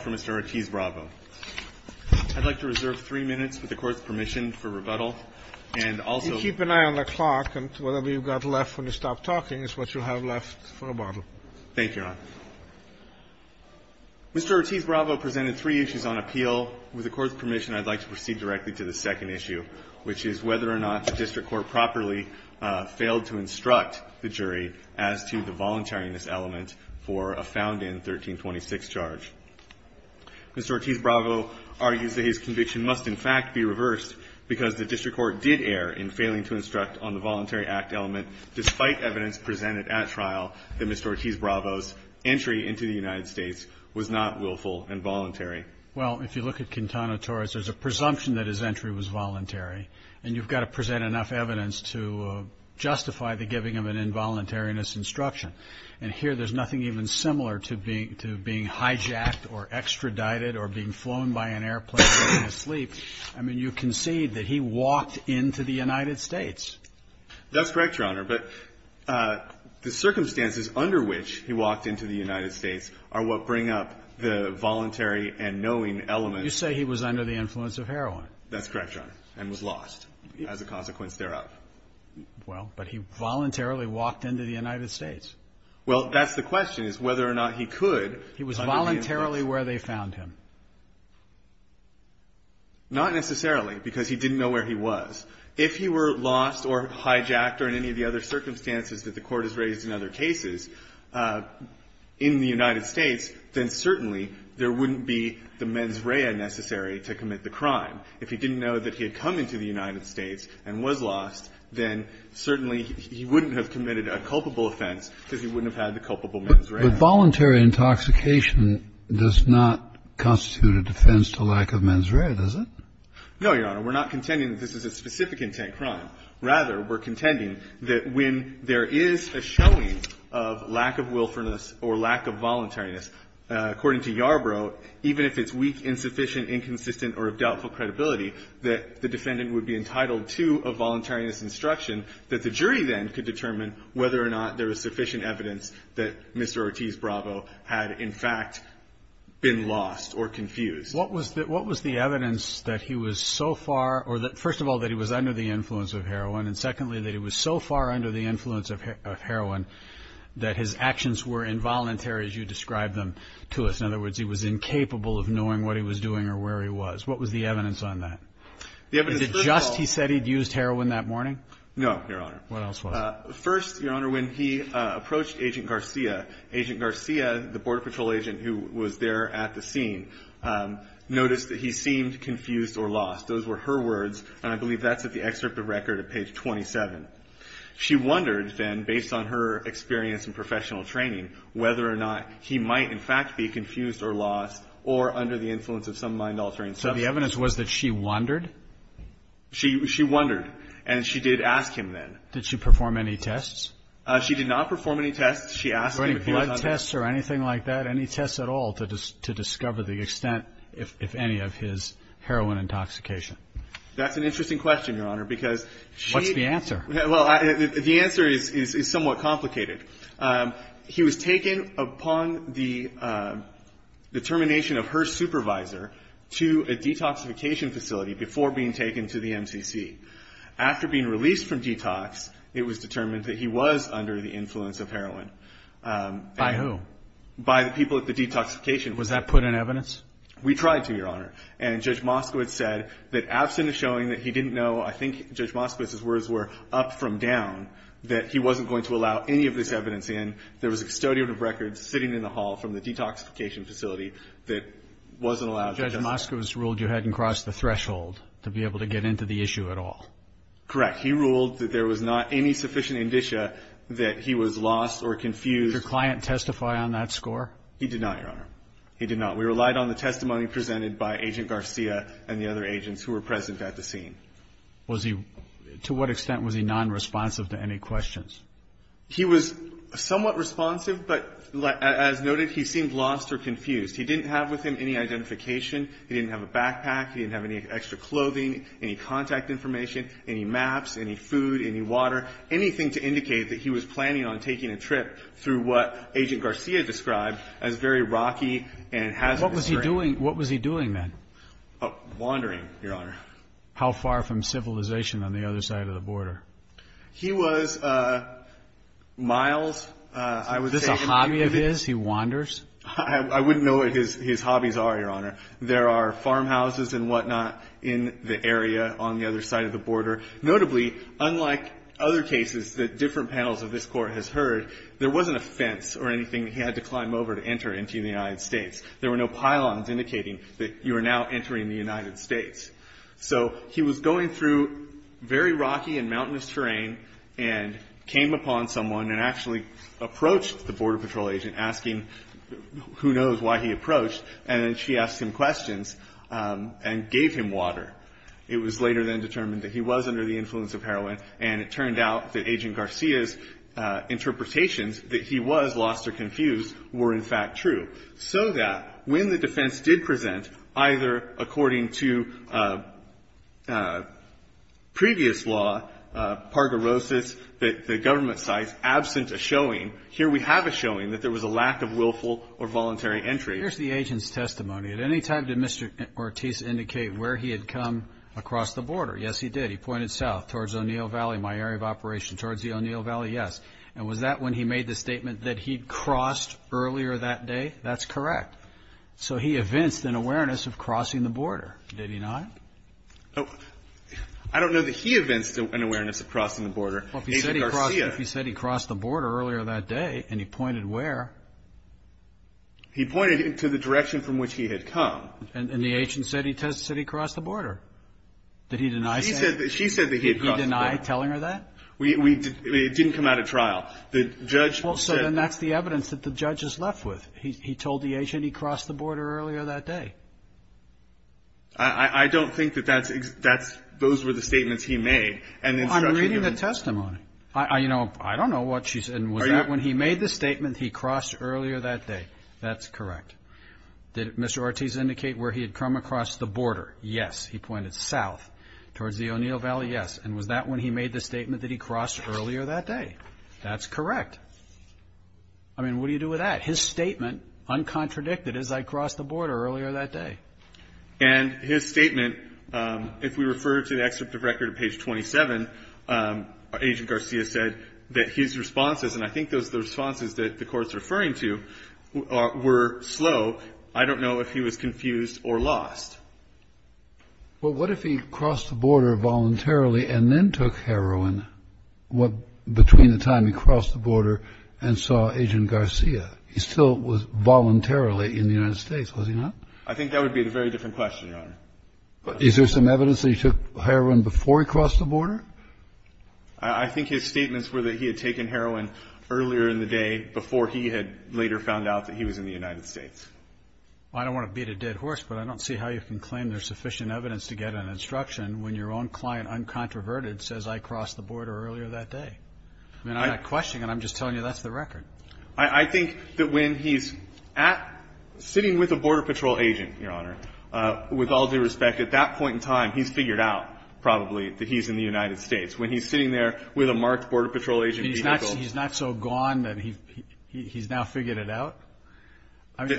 Mr. Ortiz-Bravo presented three issues on appeal. With the Court's permission, I'd like to proceed directly to the second issue, which is whether or not the District Court properly failed to instruct the jury as to the voluntariness element of the appeal. for a found-in 1326 charge. Mr. Ortiz-Bravo argues that his conviction must, in fact, be reversed because the District Court did err in failing to instruct on the voluntary act element despite evidence presented at trial that Mr. Ortiz-Bravo's entry into the United States was not willful and voluntary. Well, if you look at Quintana Torres, there's a presumption that his entry was voluntary, and you've got to present enough evidence to justify the giving of an involuntariness instruction. And here, there's nothing even similar to being hijacked or extradited or being flown by an airplane while asleep. I mean, you concede that he walked into the United States. That's correct, Your Honor, but the circumstances under which he walked into the United States are what bring up the voluntary and knowing element. You say he was under the influence of heroin. That's correct, Your Honor, and was lost as a consequence thereof. Well, but he voluntarily walked into the United States. Well, that's the question, is whether or not he could. He was voluntarily where they found him. Not necessarily, because he didn't know where he was. If he were lost or hijacked or in any of the other circumstances that the Court has raised in other cases in the United States, then certainly there wouldn't be the mens rea necessary to commit the crime. If he didn't know that he had come into the United States and was lost, then certainly he wouldn't have committed a culpable offense because he wouldn't have had the culpable mens rea. But voluntary intoxication does not constitute a defense to lack of mens rea, does it? No, Your Honor. We're not contending that this is a specific intent crime. Rather, we're contending that when there is a showing of lack of willfulness or lack of voluntariness, according to Yarbrough, even if it's weak, insufficient, inconsistent, or of doubtful credibility, that the defendant would be entitled to a voluntariness instruction that the jury then could determine whether or not there was sufficient evidence that Mr. Ortiz-Bravo had, in fact, been lost or confused. What was the evidence that he was so far, or that, first of all, that he was under the influence of heroin, and secondly, that he was so far under the influence of heroin that his actions were involuntary, as you described them to us? In other words, he was incapable of knowing what he was doing or where he was. What was the evidence on that? Is it just he said he'd used heroin that morning? No, Your Honor. What else was it? First, Your Honor, when he approached Agent Garcia, Agent Garcia, the Border Patrol agent who was there at the scene, noticed that he seemed confused or lost. Those were her words, and I believe that's at the excerpt of record at page 27. She wondered then, based on her experience in professional training, whether or not he might, in fact, be confused or lost or under the influence of some mind-altering substance. So the evidence was that she wondered? She wondered, and she did ask him then. Did she perform any tests? She did not perform any tests. She asked him if he was under the influence. Any blood tests or anything like that? Any tests at all to discover the extent, if any, of his heroin intoxication? That's an interesting question, Your Honor, because she What's the answer? Well, the answer is somewhat complicated. He was taken upon the termination of her supervisor to a detoxification facility before being taken to the MCC. After being released from detox, it was determined that he was under the influence of heroin. By who? By the people at the detoxification. Was that put in evidence? We tried to, Your Honor, and Judge Moskowitz said that, absent of showing that he didn't know, I think Judge Moskowitz's words were, up from down, that he wasn't going to allow any of this evidence in, there was a custodian of records sitting in the hall from the detoxification facility that wasn't allowed. So Judge Moskowitz ruled you hadn't crossed the threshold to be able to get into the issue at all? Correct. He ruled that there was not any sufficient indicia that he was lost or confused. Did your client testify on that score? He did not, Your Honor. He did not. We relied on the testimony presented by Agent Garcia and the other agents who were present at the scene. To what extent was he nonresponsive to any questions? He was somewhat responsive, but as noted, he seemed lost or confused. He didn't have with him any identification. He didn't have a backpack. He didn't have any extra clothing, any contact information, any maps, any food, any water, anything to indicate that he was planning on taking a trip through what Agent Garcia described as very rocky and hazardous terrain. What was he doing then? Wandering, Your Honor. How far from civilization on the other side of the border? Is this a hobby of his, he wanders? I wouldn't know what his hobbies are, Your Honor. There are farmhouses and whatnot in the area on the other side of the border. Notably, unlike other cases that different panels of this Court has heard, there wasn't a fence or anything he had to climb over to enter into the United States. There were no pylons indicating that you are now entering the United States. So he was going through very rocky and mountainous terrain and came upon someone and actually approached the Border Patrol agent asking who knows why he approached, and then she asked him questions and gave him water. It was later then determined that he was under the influence of heroin, and it turned out that Agent Garcia's interpretations that he was lost or confused were in fact true. So that when the defense did present either according to previous law, parguerosis, the government sites absent a showing, here we have a showing that there was a lack of willful or voluntary entry. Here's the agent's testimony. At any time did Mr. Ortiz indicate where he had come across the border? Yes, he did. He pointed south towards O'Neill Valley, my area of operation, towards the O'Neill Valley, yes. And was that when he made the statement that he'd crossed earlier that day? That's correct. So he evinced an awareness of crossing the border, did he not? I don't know that he evinced an awareness of crossing the border. Agent Garcia. Well, if he said he crossed the border earlier that day and he pointed where? He pointed to the direction from which he had come. And the agent said he crossed the border. Did he deny saying that? She said that he had crossed the border. Did he deny telling her that? It didn't come out at trial. So then that's the evidence that the judge is left with. He told the agent he crossed the border earlier that day. I don't think that those were the statements he made. Well, I'm reading the testimony. I don't know what she said. And was that when he made the statement he crossed earlier that day? That's correct. Did Mr. Ortiz indicate where he had come across the border? Yes, he pointed south towards the O'Neill Valley, yes. And was that when he made the statement that he crossed earlier that day? That's correct. I mean, what do you do with that? His statement, uncontradicted, is I crossed the border earlier that day. And his statement, if we refer to the excerpt of record at page 27, Agent Garcia said that his responses, and I think those are the responses that the Court's referring to, were slow. I don't know if he was confused or lost. Well, what if he crossed the border voluntarily and then took heroin between the time he crossed the border and saw Agent Garcia? He still was voluntarily in the United States, was he not? I think that would be a very different question, Your Honor. Is there some evidence that he took heroin before he crossed the border? I think his statements were that he had taken heroin earlier in the day before he had later found out that he was in the United States. I don't want to beat a dead horse, but I don't see how you can claim there's sufficient evidence to get an instruction when your own client, uncontroverted, says I crossed the border earlier that day. I mean, I have a question, and I'm just telling you that's the record. I think that when he's sitting with a Border Patrol agent, Your Honor, with all due respect, at that point in time, he's figured out probably that he's in the United States. When he's sitting there with a marked Border Patrol agent vehicle. He's not so gone that he's now figured it out?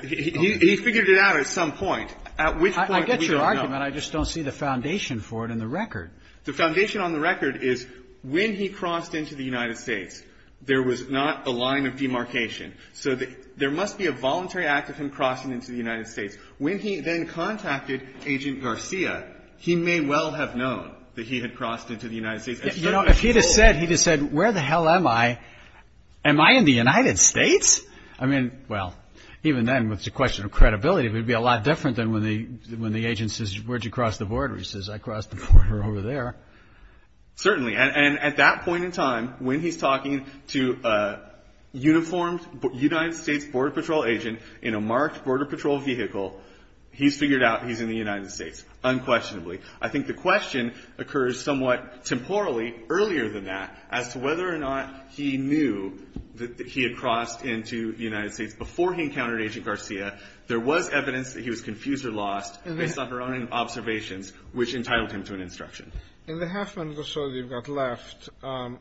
He figured it out at some point, at which point we don't know. I get your argument. I just don't see the foundation for it in the record. The foundation on the record is when he crossed into the United States, there was not a line of demarcation. So there must be a voluntary act of him crossing into the United States. When he then contacted Agent Garcia, he may well have known that he had crossed into the United States. You know, if he'd have said, he'd have said, where the hell am I? Am I in the United States? I mean, well, even then, with the question of credibility, it would be a lot different than when the agent says, where did you cross the border? He says, I crossed the border over there. Certainly. And at that point in time, when he's talking to a uniformed United States Border Patrol agent in a marked Border Patrol vehicle, he's figured out he's in the United States, unquestionably. I think the question occurs somewhat temporally earlier than that, as to whether or not he knew that he had crossed into the United States before he encountered Agent Garcia. There was evidence that he was confused or lost based on her own observations, which entitled him to an instruction. In the half minute or so that you've got left,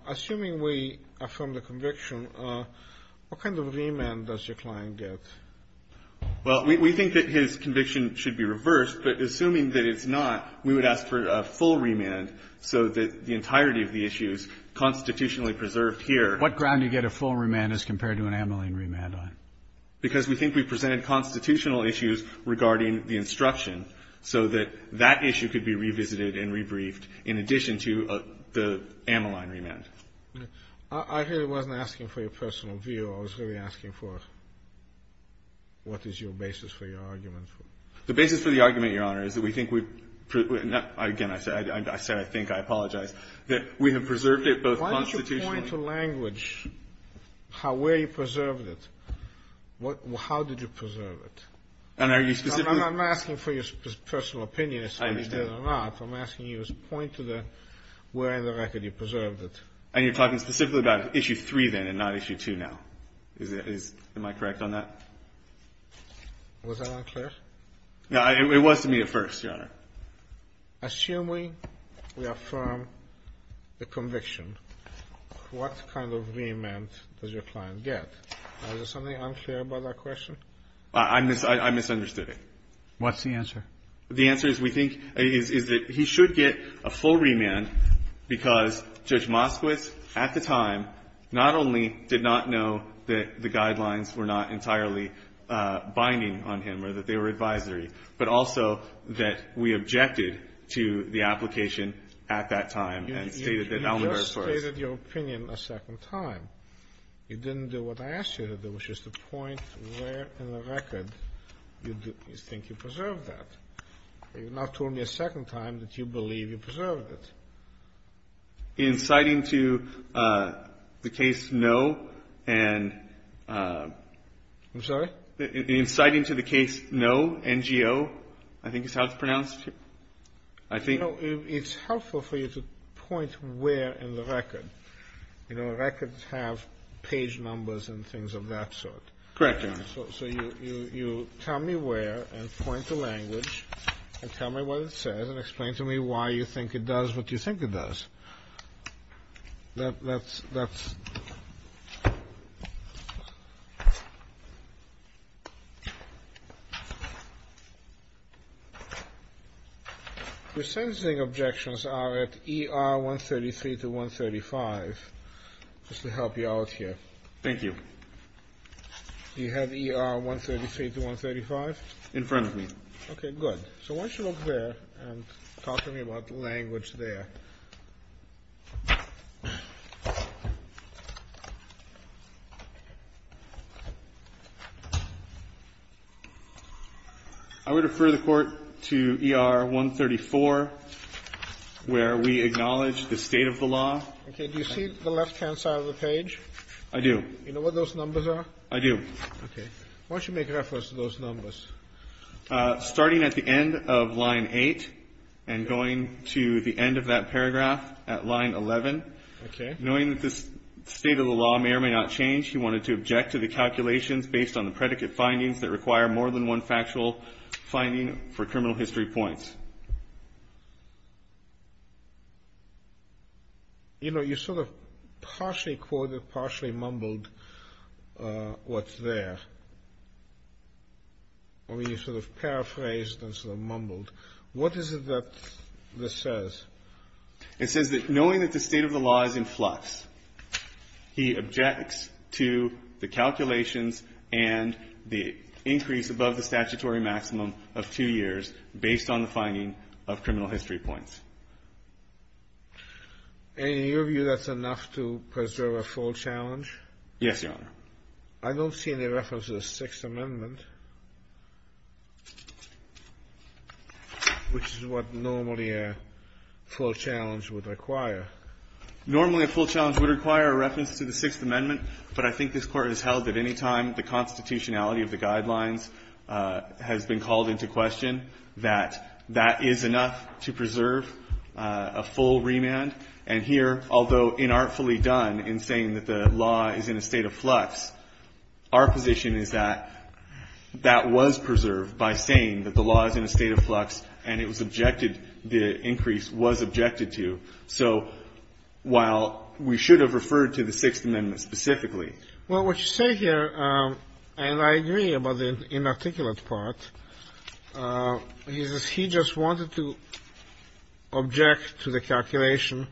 assuming we affirm the conviction, what kind of remand does your client get? Well, we think that his conviction should be reversed, but assuming that it's not, we would ask for a full remand so that the entirety of the issue is constitutionally preserved here. What ground do you get a full remand as compared to an amyling remand? Because we think we presented constitutional issues regarding the instruction, so that that issue could be revisited and rebriefed in addition to the amyling remand. I hear he wasn't asking for your personal view. I was really asking for what is your basis for your argument. The basis for the argument, Your Honor, is that we think we've – again, I said I think. I apologize. That we have preserved it both constitutionally. Point to language where you preserved it. How did you preserve it? And are you specifically – I'm not asking for your personal opinion as to whether you did or not. I understand. I'm asking you to point to where in the record you preserved it. And you're talking specifically about Issue 3 then and not Issue 2 now. Am I correct on that? Was that unclear? No, it was to me at first, Your Honor. Assuming we affirm the conviction, what kind of remand does your client get? Is there something unclear about that question? I misunderstood it. What's the answer? The answer, we think, is that he should get a full remand because Judge Moskowitz at the time not only did not know that the guidelines were not entirely binding on him or that they were advisory, but also that we objected to the application at that time and stated that Elmendorf was – You just stated your opinion a second time. You didn't do what I asked you to do, which is to point where in the record you think you preserved that. You've not told me a second time that you believe you preserved it. In citing to the case no and – I'm sorry? In citing to the case no, NGO, I think is how it's pronounced? I think – No. It's helpful for you to point where in the record. You know, records have page numbers and things of that sort. Correct, Your Honor. So you tell me where and point to language and tell me what it says and explain to me why you think it does what you think it does. That's – Your sentencing objections are at ER 133 to 135, just to help you out here. Thank you. Do you have ER 133 to 135? In front of me. Okay, good. So why don't you look there and talk to me about the language there. I would refer the Court to ER 134, where we acknowledge the state of the law. Okay. Do you see the left-hand side of the page? I do. Do you know what those numbers are? I do. Okay. Why don't you make reference to those numbers? Starting at the end of line 8 and going to the end of that paragraph at line 11. Okay. Knowing that this state of the law may or may not change, he wanted to object to the calculations based on the predicate findings that require more than one factual finding for criminal history points. You know, you sort of partially quoted, partially mumbled what's there. I mean, you sort of paraphrased and sort of mumbled. What is it that this says? It says that knowing that the state of the law is in flux, he objects to the calculations and the increase above the statutory maximum of two years based on the finding of criminal history points. And in your view, that's enough to preserve a full challenge? Yes, Your Honor. I don't see any reference to the Sixth Amendment, which is what normally a full challenge would require. Normally a full challenge would require a reference to the Sixth Amendment, but I think this Court has held that any time the constitutionality of the guidelines has been called into question, that that is enough to preserve a full remand. And here, although inartfully done in saying that the law is in a state of flux, our position is that that was preserved by saying that the law is in a state of flux and it was objected, the increase was objected to. So while we should have referred to the Sixth Amendment specifically. Well, what you say here, and I agree about the inarticulate part, he says he just wanted to object to the calculation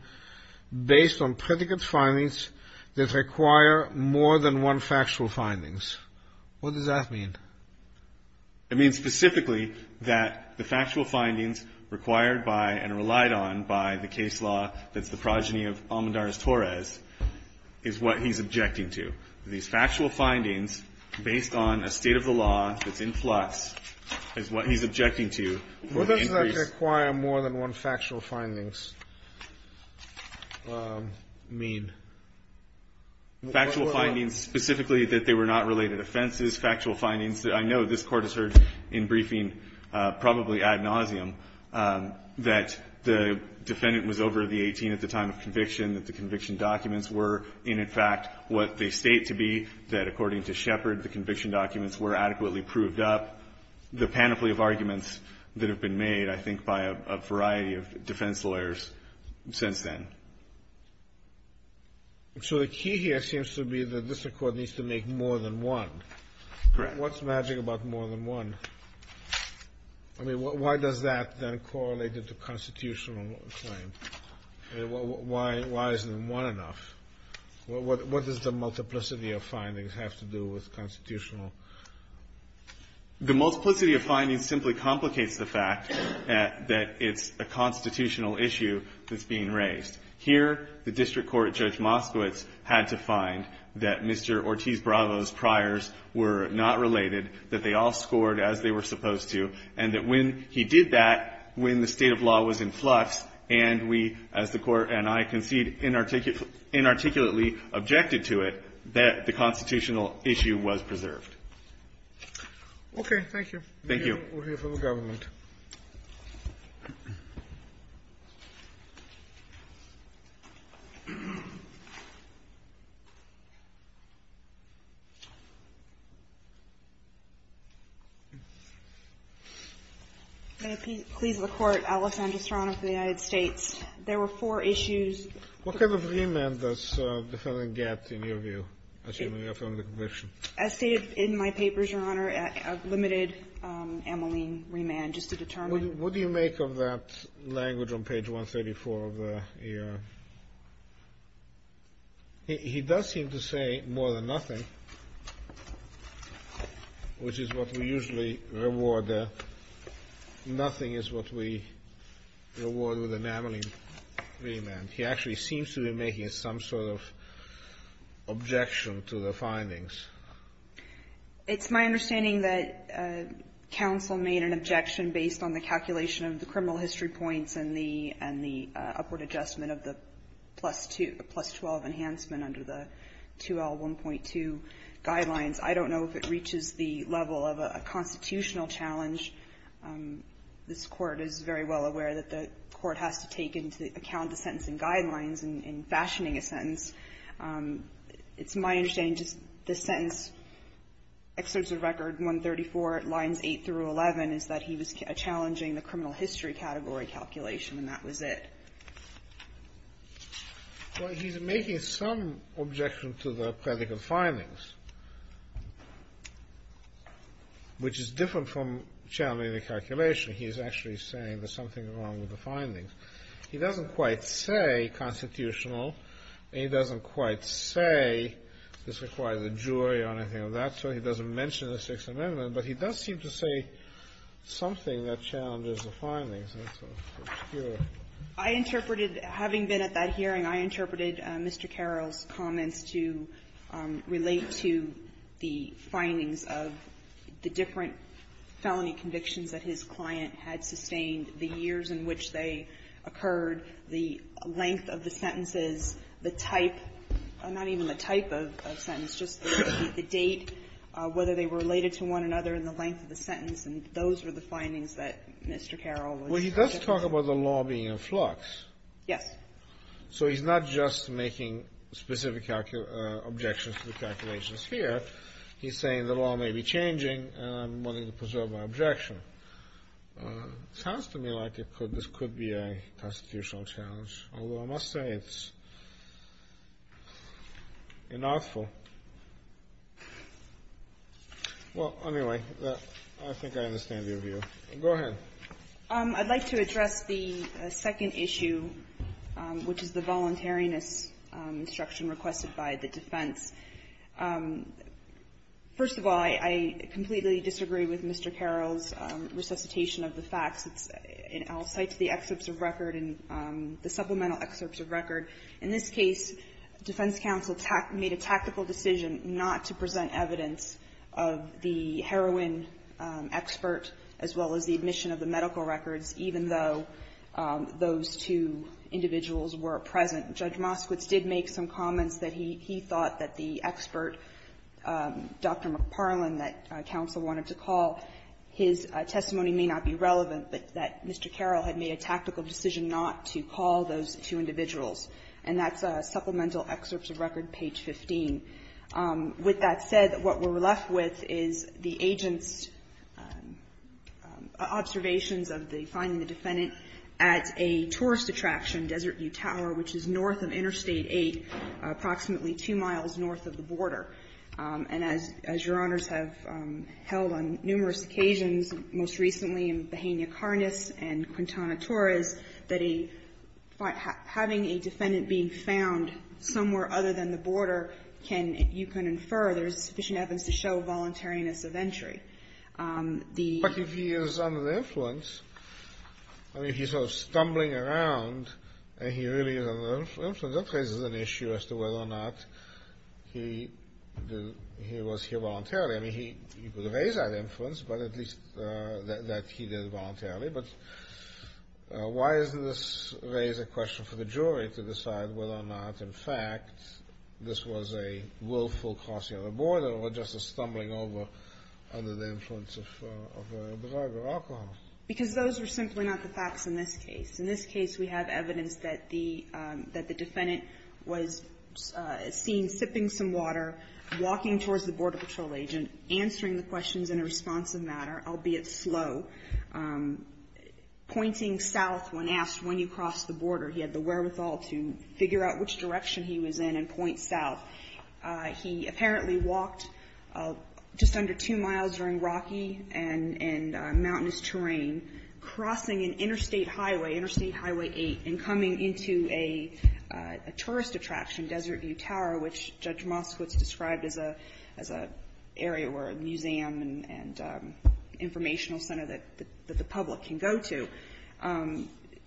based on predicate findings that require more than one factual findings. What does that mean? It means specifically that the factual findings required by and relied on by the case law that's the progeny of Almendarez-Torres is what he's objecting to. These factual findings based on a state of the law that's in flux is what he's objecting to for the increase. What does that require more than one factual findings mean? Factual findings specifically that they were not related offenses, factual findings that I know this Court has heard in briefing probably ad nauseum that the defendant was over the 18 at the time of conviction, that the conviction documents were, and in fact, what they state to be, that according to Shepard, the conviction documents were adequately proved up, the panoply of arguments that have been made, I think, by a variety of defense lawyers since then. So the key here seems to be that this Court needs to make more than one. Correct. What's magic about more than one? I mean, why does that then correlate into constitutional claim? Why isn't one enough? What does the multiplicity of findings have to do with constitutional? The multiplicity of findings simply complicates the fact that it's a constitutional issue that's being raised. Here, the district court, Judge Moskowitz, had to find that Mr. Ortiz-Bravo's claims were not related, that they all scored as they were supposed to, and that when he did that, when the state of law was in flux, and we, as the Court and I concede, inarticulately objected to it, that the constitutional issue was preserved. Okay. Thank you. We'll hear from the government. May I please look forward, Alice, and just, Your Honor, for the United States. There were four issues. What kind of remand does the Federal get, in your view, assuming you're from the conviction? As stated in my papers, Your Honor, a limited amylene remand, just to determine What do you make of that language on page 134 of the ER? He does seem to say more than nothing, which is what we usually reward. Nothing is what we reward with an amylene remand. He actually seems to be making some sort of objection to the findings. It's my understanding that counsel made an objection based on the calculation of the criminal history points and the upward adjustment of the plus-12 enhancement under the 2L1.2 guidelines. I don't know if it reaches the level of a constitutional challenge. This Court is very well aware that the Court has to take into account the sentencing guidelines in fashioning a sentence. It's my understanding just this sentence, excerpts of Record 134, lines 8 through 11, is that he was challenging the criminal history category calculation, and that was it. Well, he's making some objection to the practical findings, which is different from challenging the calculation. He's actually saying there's something wrong with the findings. He doesn't quite say constitutional. He doesn't quite say this requires a jury or anything of that sort. He doesn't mention the Sixth Amendment. But he does seem to say something that challenges the findings. And it's obscure. I interpreted, having been at that hearing, I interpreted Mr. Carroll's comments to relate to the findings of the different felony convictions that his client had sustained, the years in which they occurred, the length of the sentences, the type, not even the type of sentence, just the date, whether they were related to one another and the length of the sentence. And those were the findings that Mr. Carroll was trying to get. Well, he does talk about the law being in flux. Yes. So he's not just making specific objections to the calculations here. He's saying the law may be changing, and I'm wanting to preserve my objection. It sounds to me like this could be a constitutional challenge, although I must say it's unlawful. Well, anyway, I think I understand your view. Go ahead. I'd like to address the second issue, which is the voluntariness instruction requested by the defense. First of all, I completely disagree with Mr. Carroll's resuscitation of the facts. It's an outsight to the excerpts of record and the supplemental excerpts of record. In this case, defense counsel made a tactical decision not to present evidence of the heroin expert, as well as the admission of the medical records, even though those two individuals were present. Judge Moskowitz did make some comments that he thought that the expert, Dr. McParlin, that counsel wanted to call, his testimony may not be relevant, but that Mr. Carroll had made a tactical decision not to call those two individuals. And that's supplemental excerpts of record, page 15. With that said, what we're left with is the agent's observations of the finding the defendant at a tourist attraction, Desert View Tower, which is north of Interstate 8, approximately 2 miles north of the border. And as Your Honors have held on numerous occasions, most recently in Bahena Karnas and Quintana Torres, that having a defendant being found somewhere other than the border can, you can infer there's sufficient evidence to show voluntariness of entry. The... But if he is under the influence, I mean, if he's sort of stumbling around and he really is under the influence, that raises an issue as to whether or not he was here voluntarily. I mean, he could have raised that influence, but at least that he did it voluntarily. But why doesn't this raise a question for the jury to decide whether or not, in fact, this was a willful crossing of the border or just a stumbling over under the influence of a bazaar or alcohol? Because those are simply not the facts in this case. In this case, we have evidence that the defendant was seen sipping some water, walking towards the Border Patrol agent, answering the questions in a responsive manner, albeit slow, pointing south when asked, when you cross the border. He had the wherewithal to figure out which direction he was in and point south. He apparently walked just under two miles during rocky and mountainous terrain, crossing an interstate highway, Interstate Highway 8, and coming into a tourist attraction, Desert View Tower, which Judge Moskowitz described as an area where a museum and informational center that the public can go to.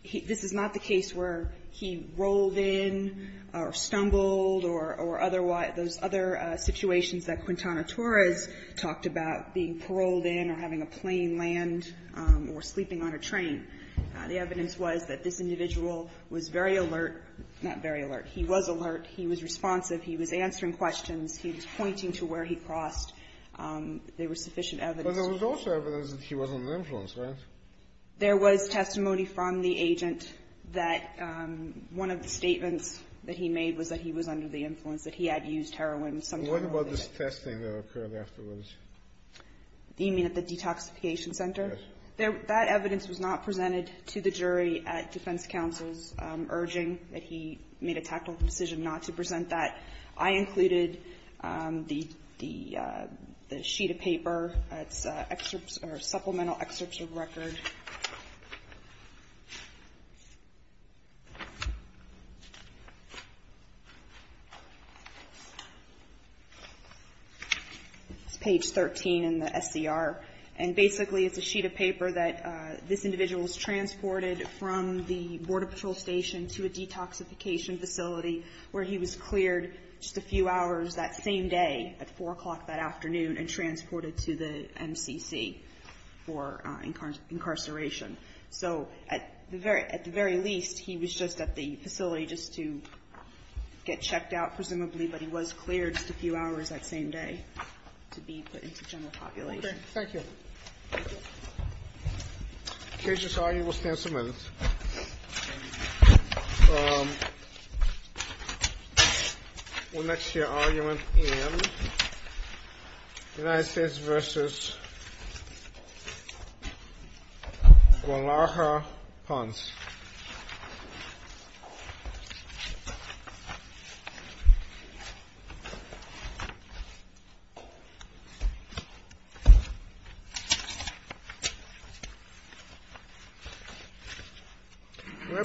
This is not the case where he rolled in or stumbled or otherwise those other situations that Quintana Torres talked about, being paroled in or having a plane land or sleeping on a train. The evidence was that this individual was very alert. Not very alert. He was alert. He was responsive. He was answering questions. He was pointing to where he crossed. There was sufficient evidence. But there was also evidence that he wasn't under influence, right? There was testimony from the agent that one of the statements that he made was that he was under the influence, that he had used heroin sometime earlier. What about this testing that occurred afterwards? You mean at the detoxification center? Yes. That evidence was not presented to the jury at defense counsel's urging that he made a tactical decision not to present that. I included the sheet of paper. It's supplemental excerpts of record. It's page 13 in the SCR. And basically it's a sheet of paper that this individual was transported from the Border to the detoxification facility where he was cleared just a few hours that same day at 4 o'clock that afternoon and transported to the MCC for incarceration. So at the very least, he was just at the facility just to get checked out, presumably, but he was cleared just a few hours that same day to be put into general population. Thank you. The Cajun's argument will stand some minutes. We'll next hear argument in United States v. Guadalajara Ponds. We'll have to see.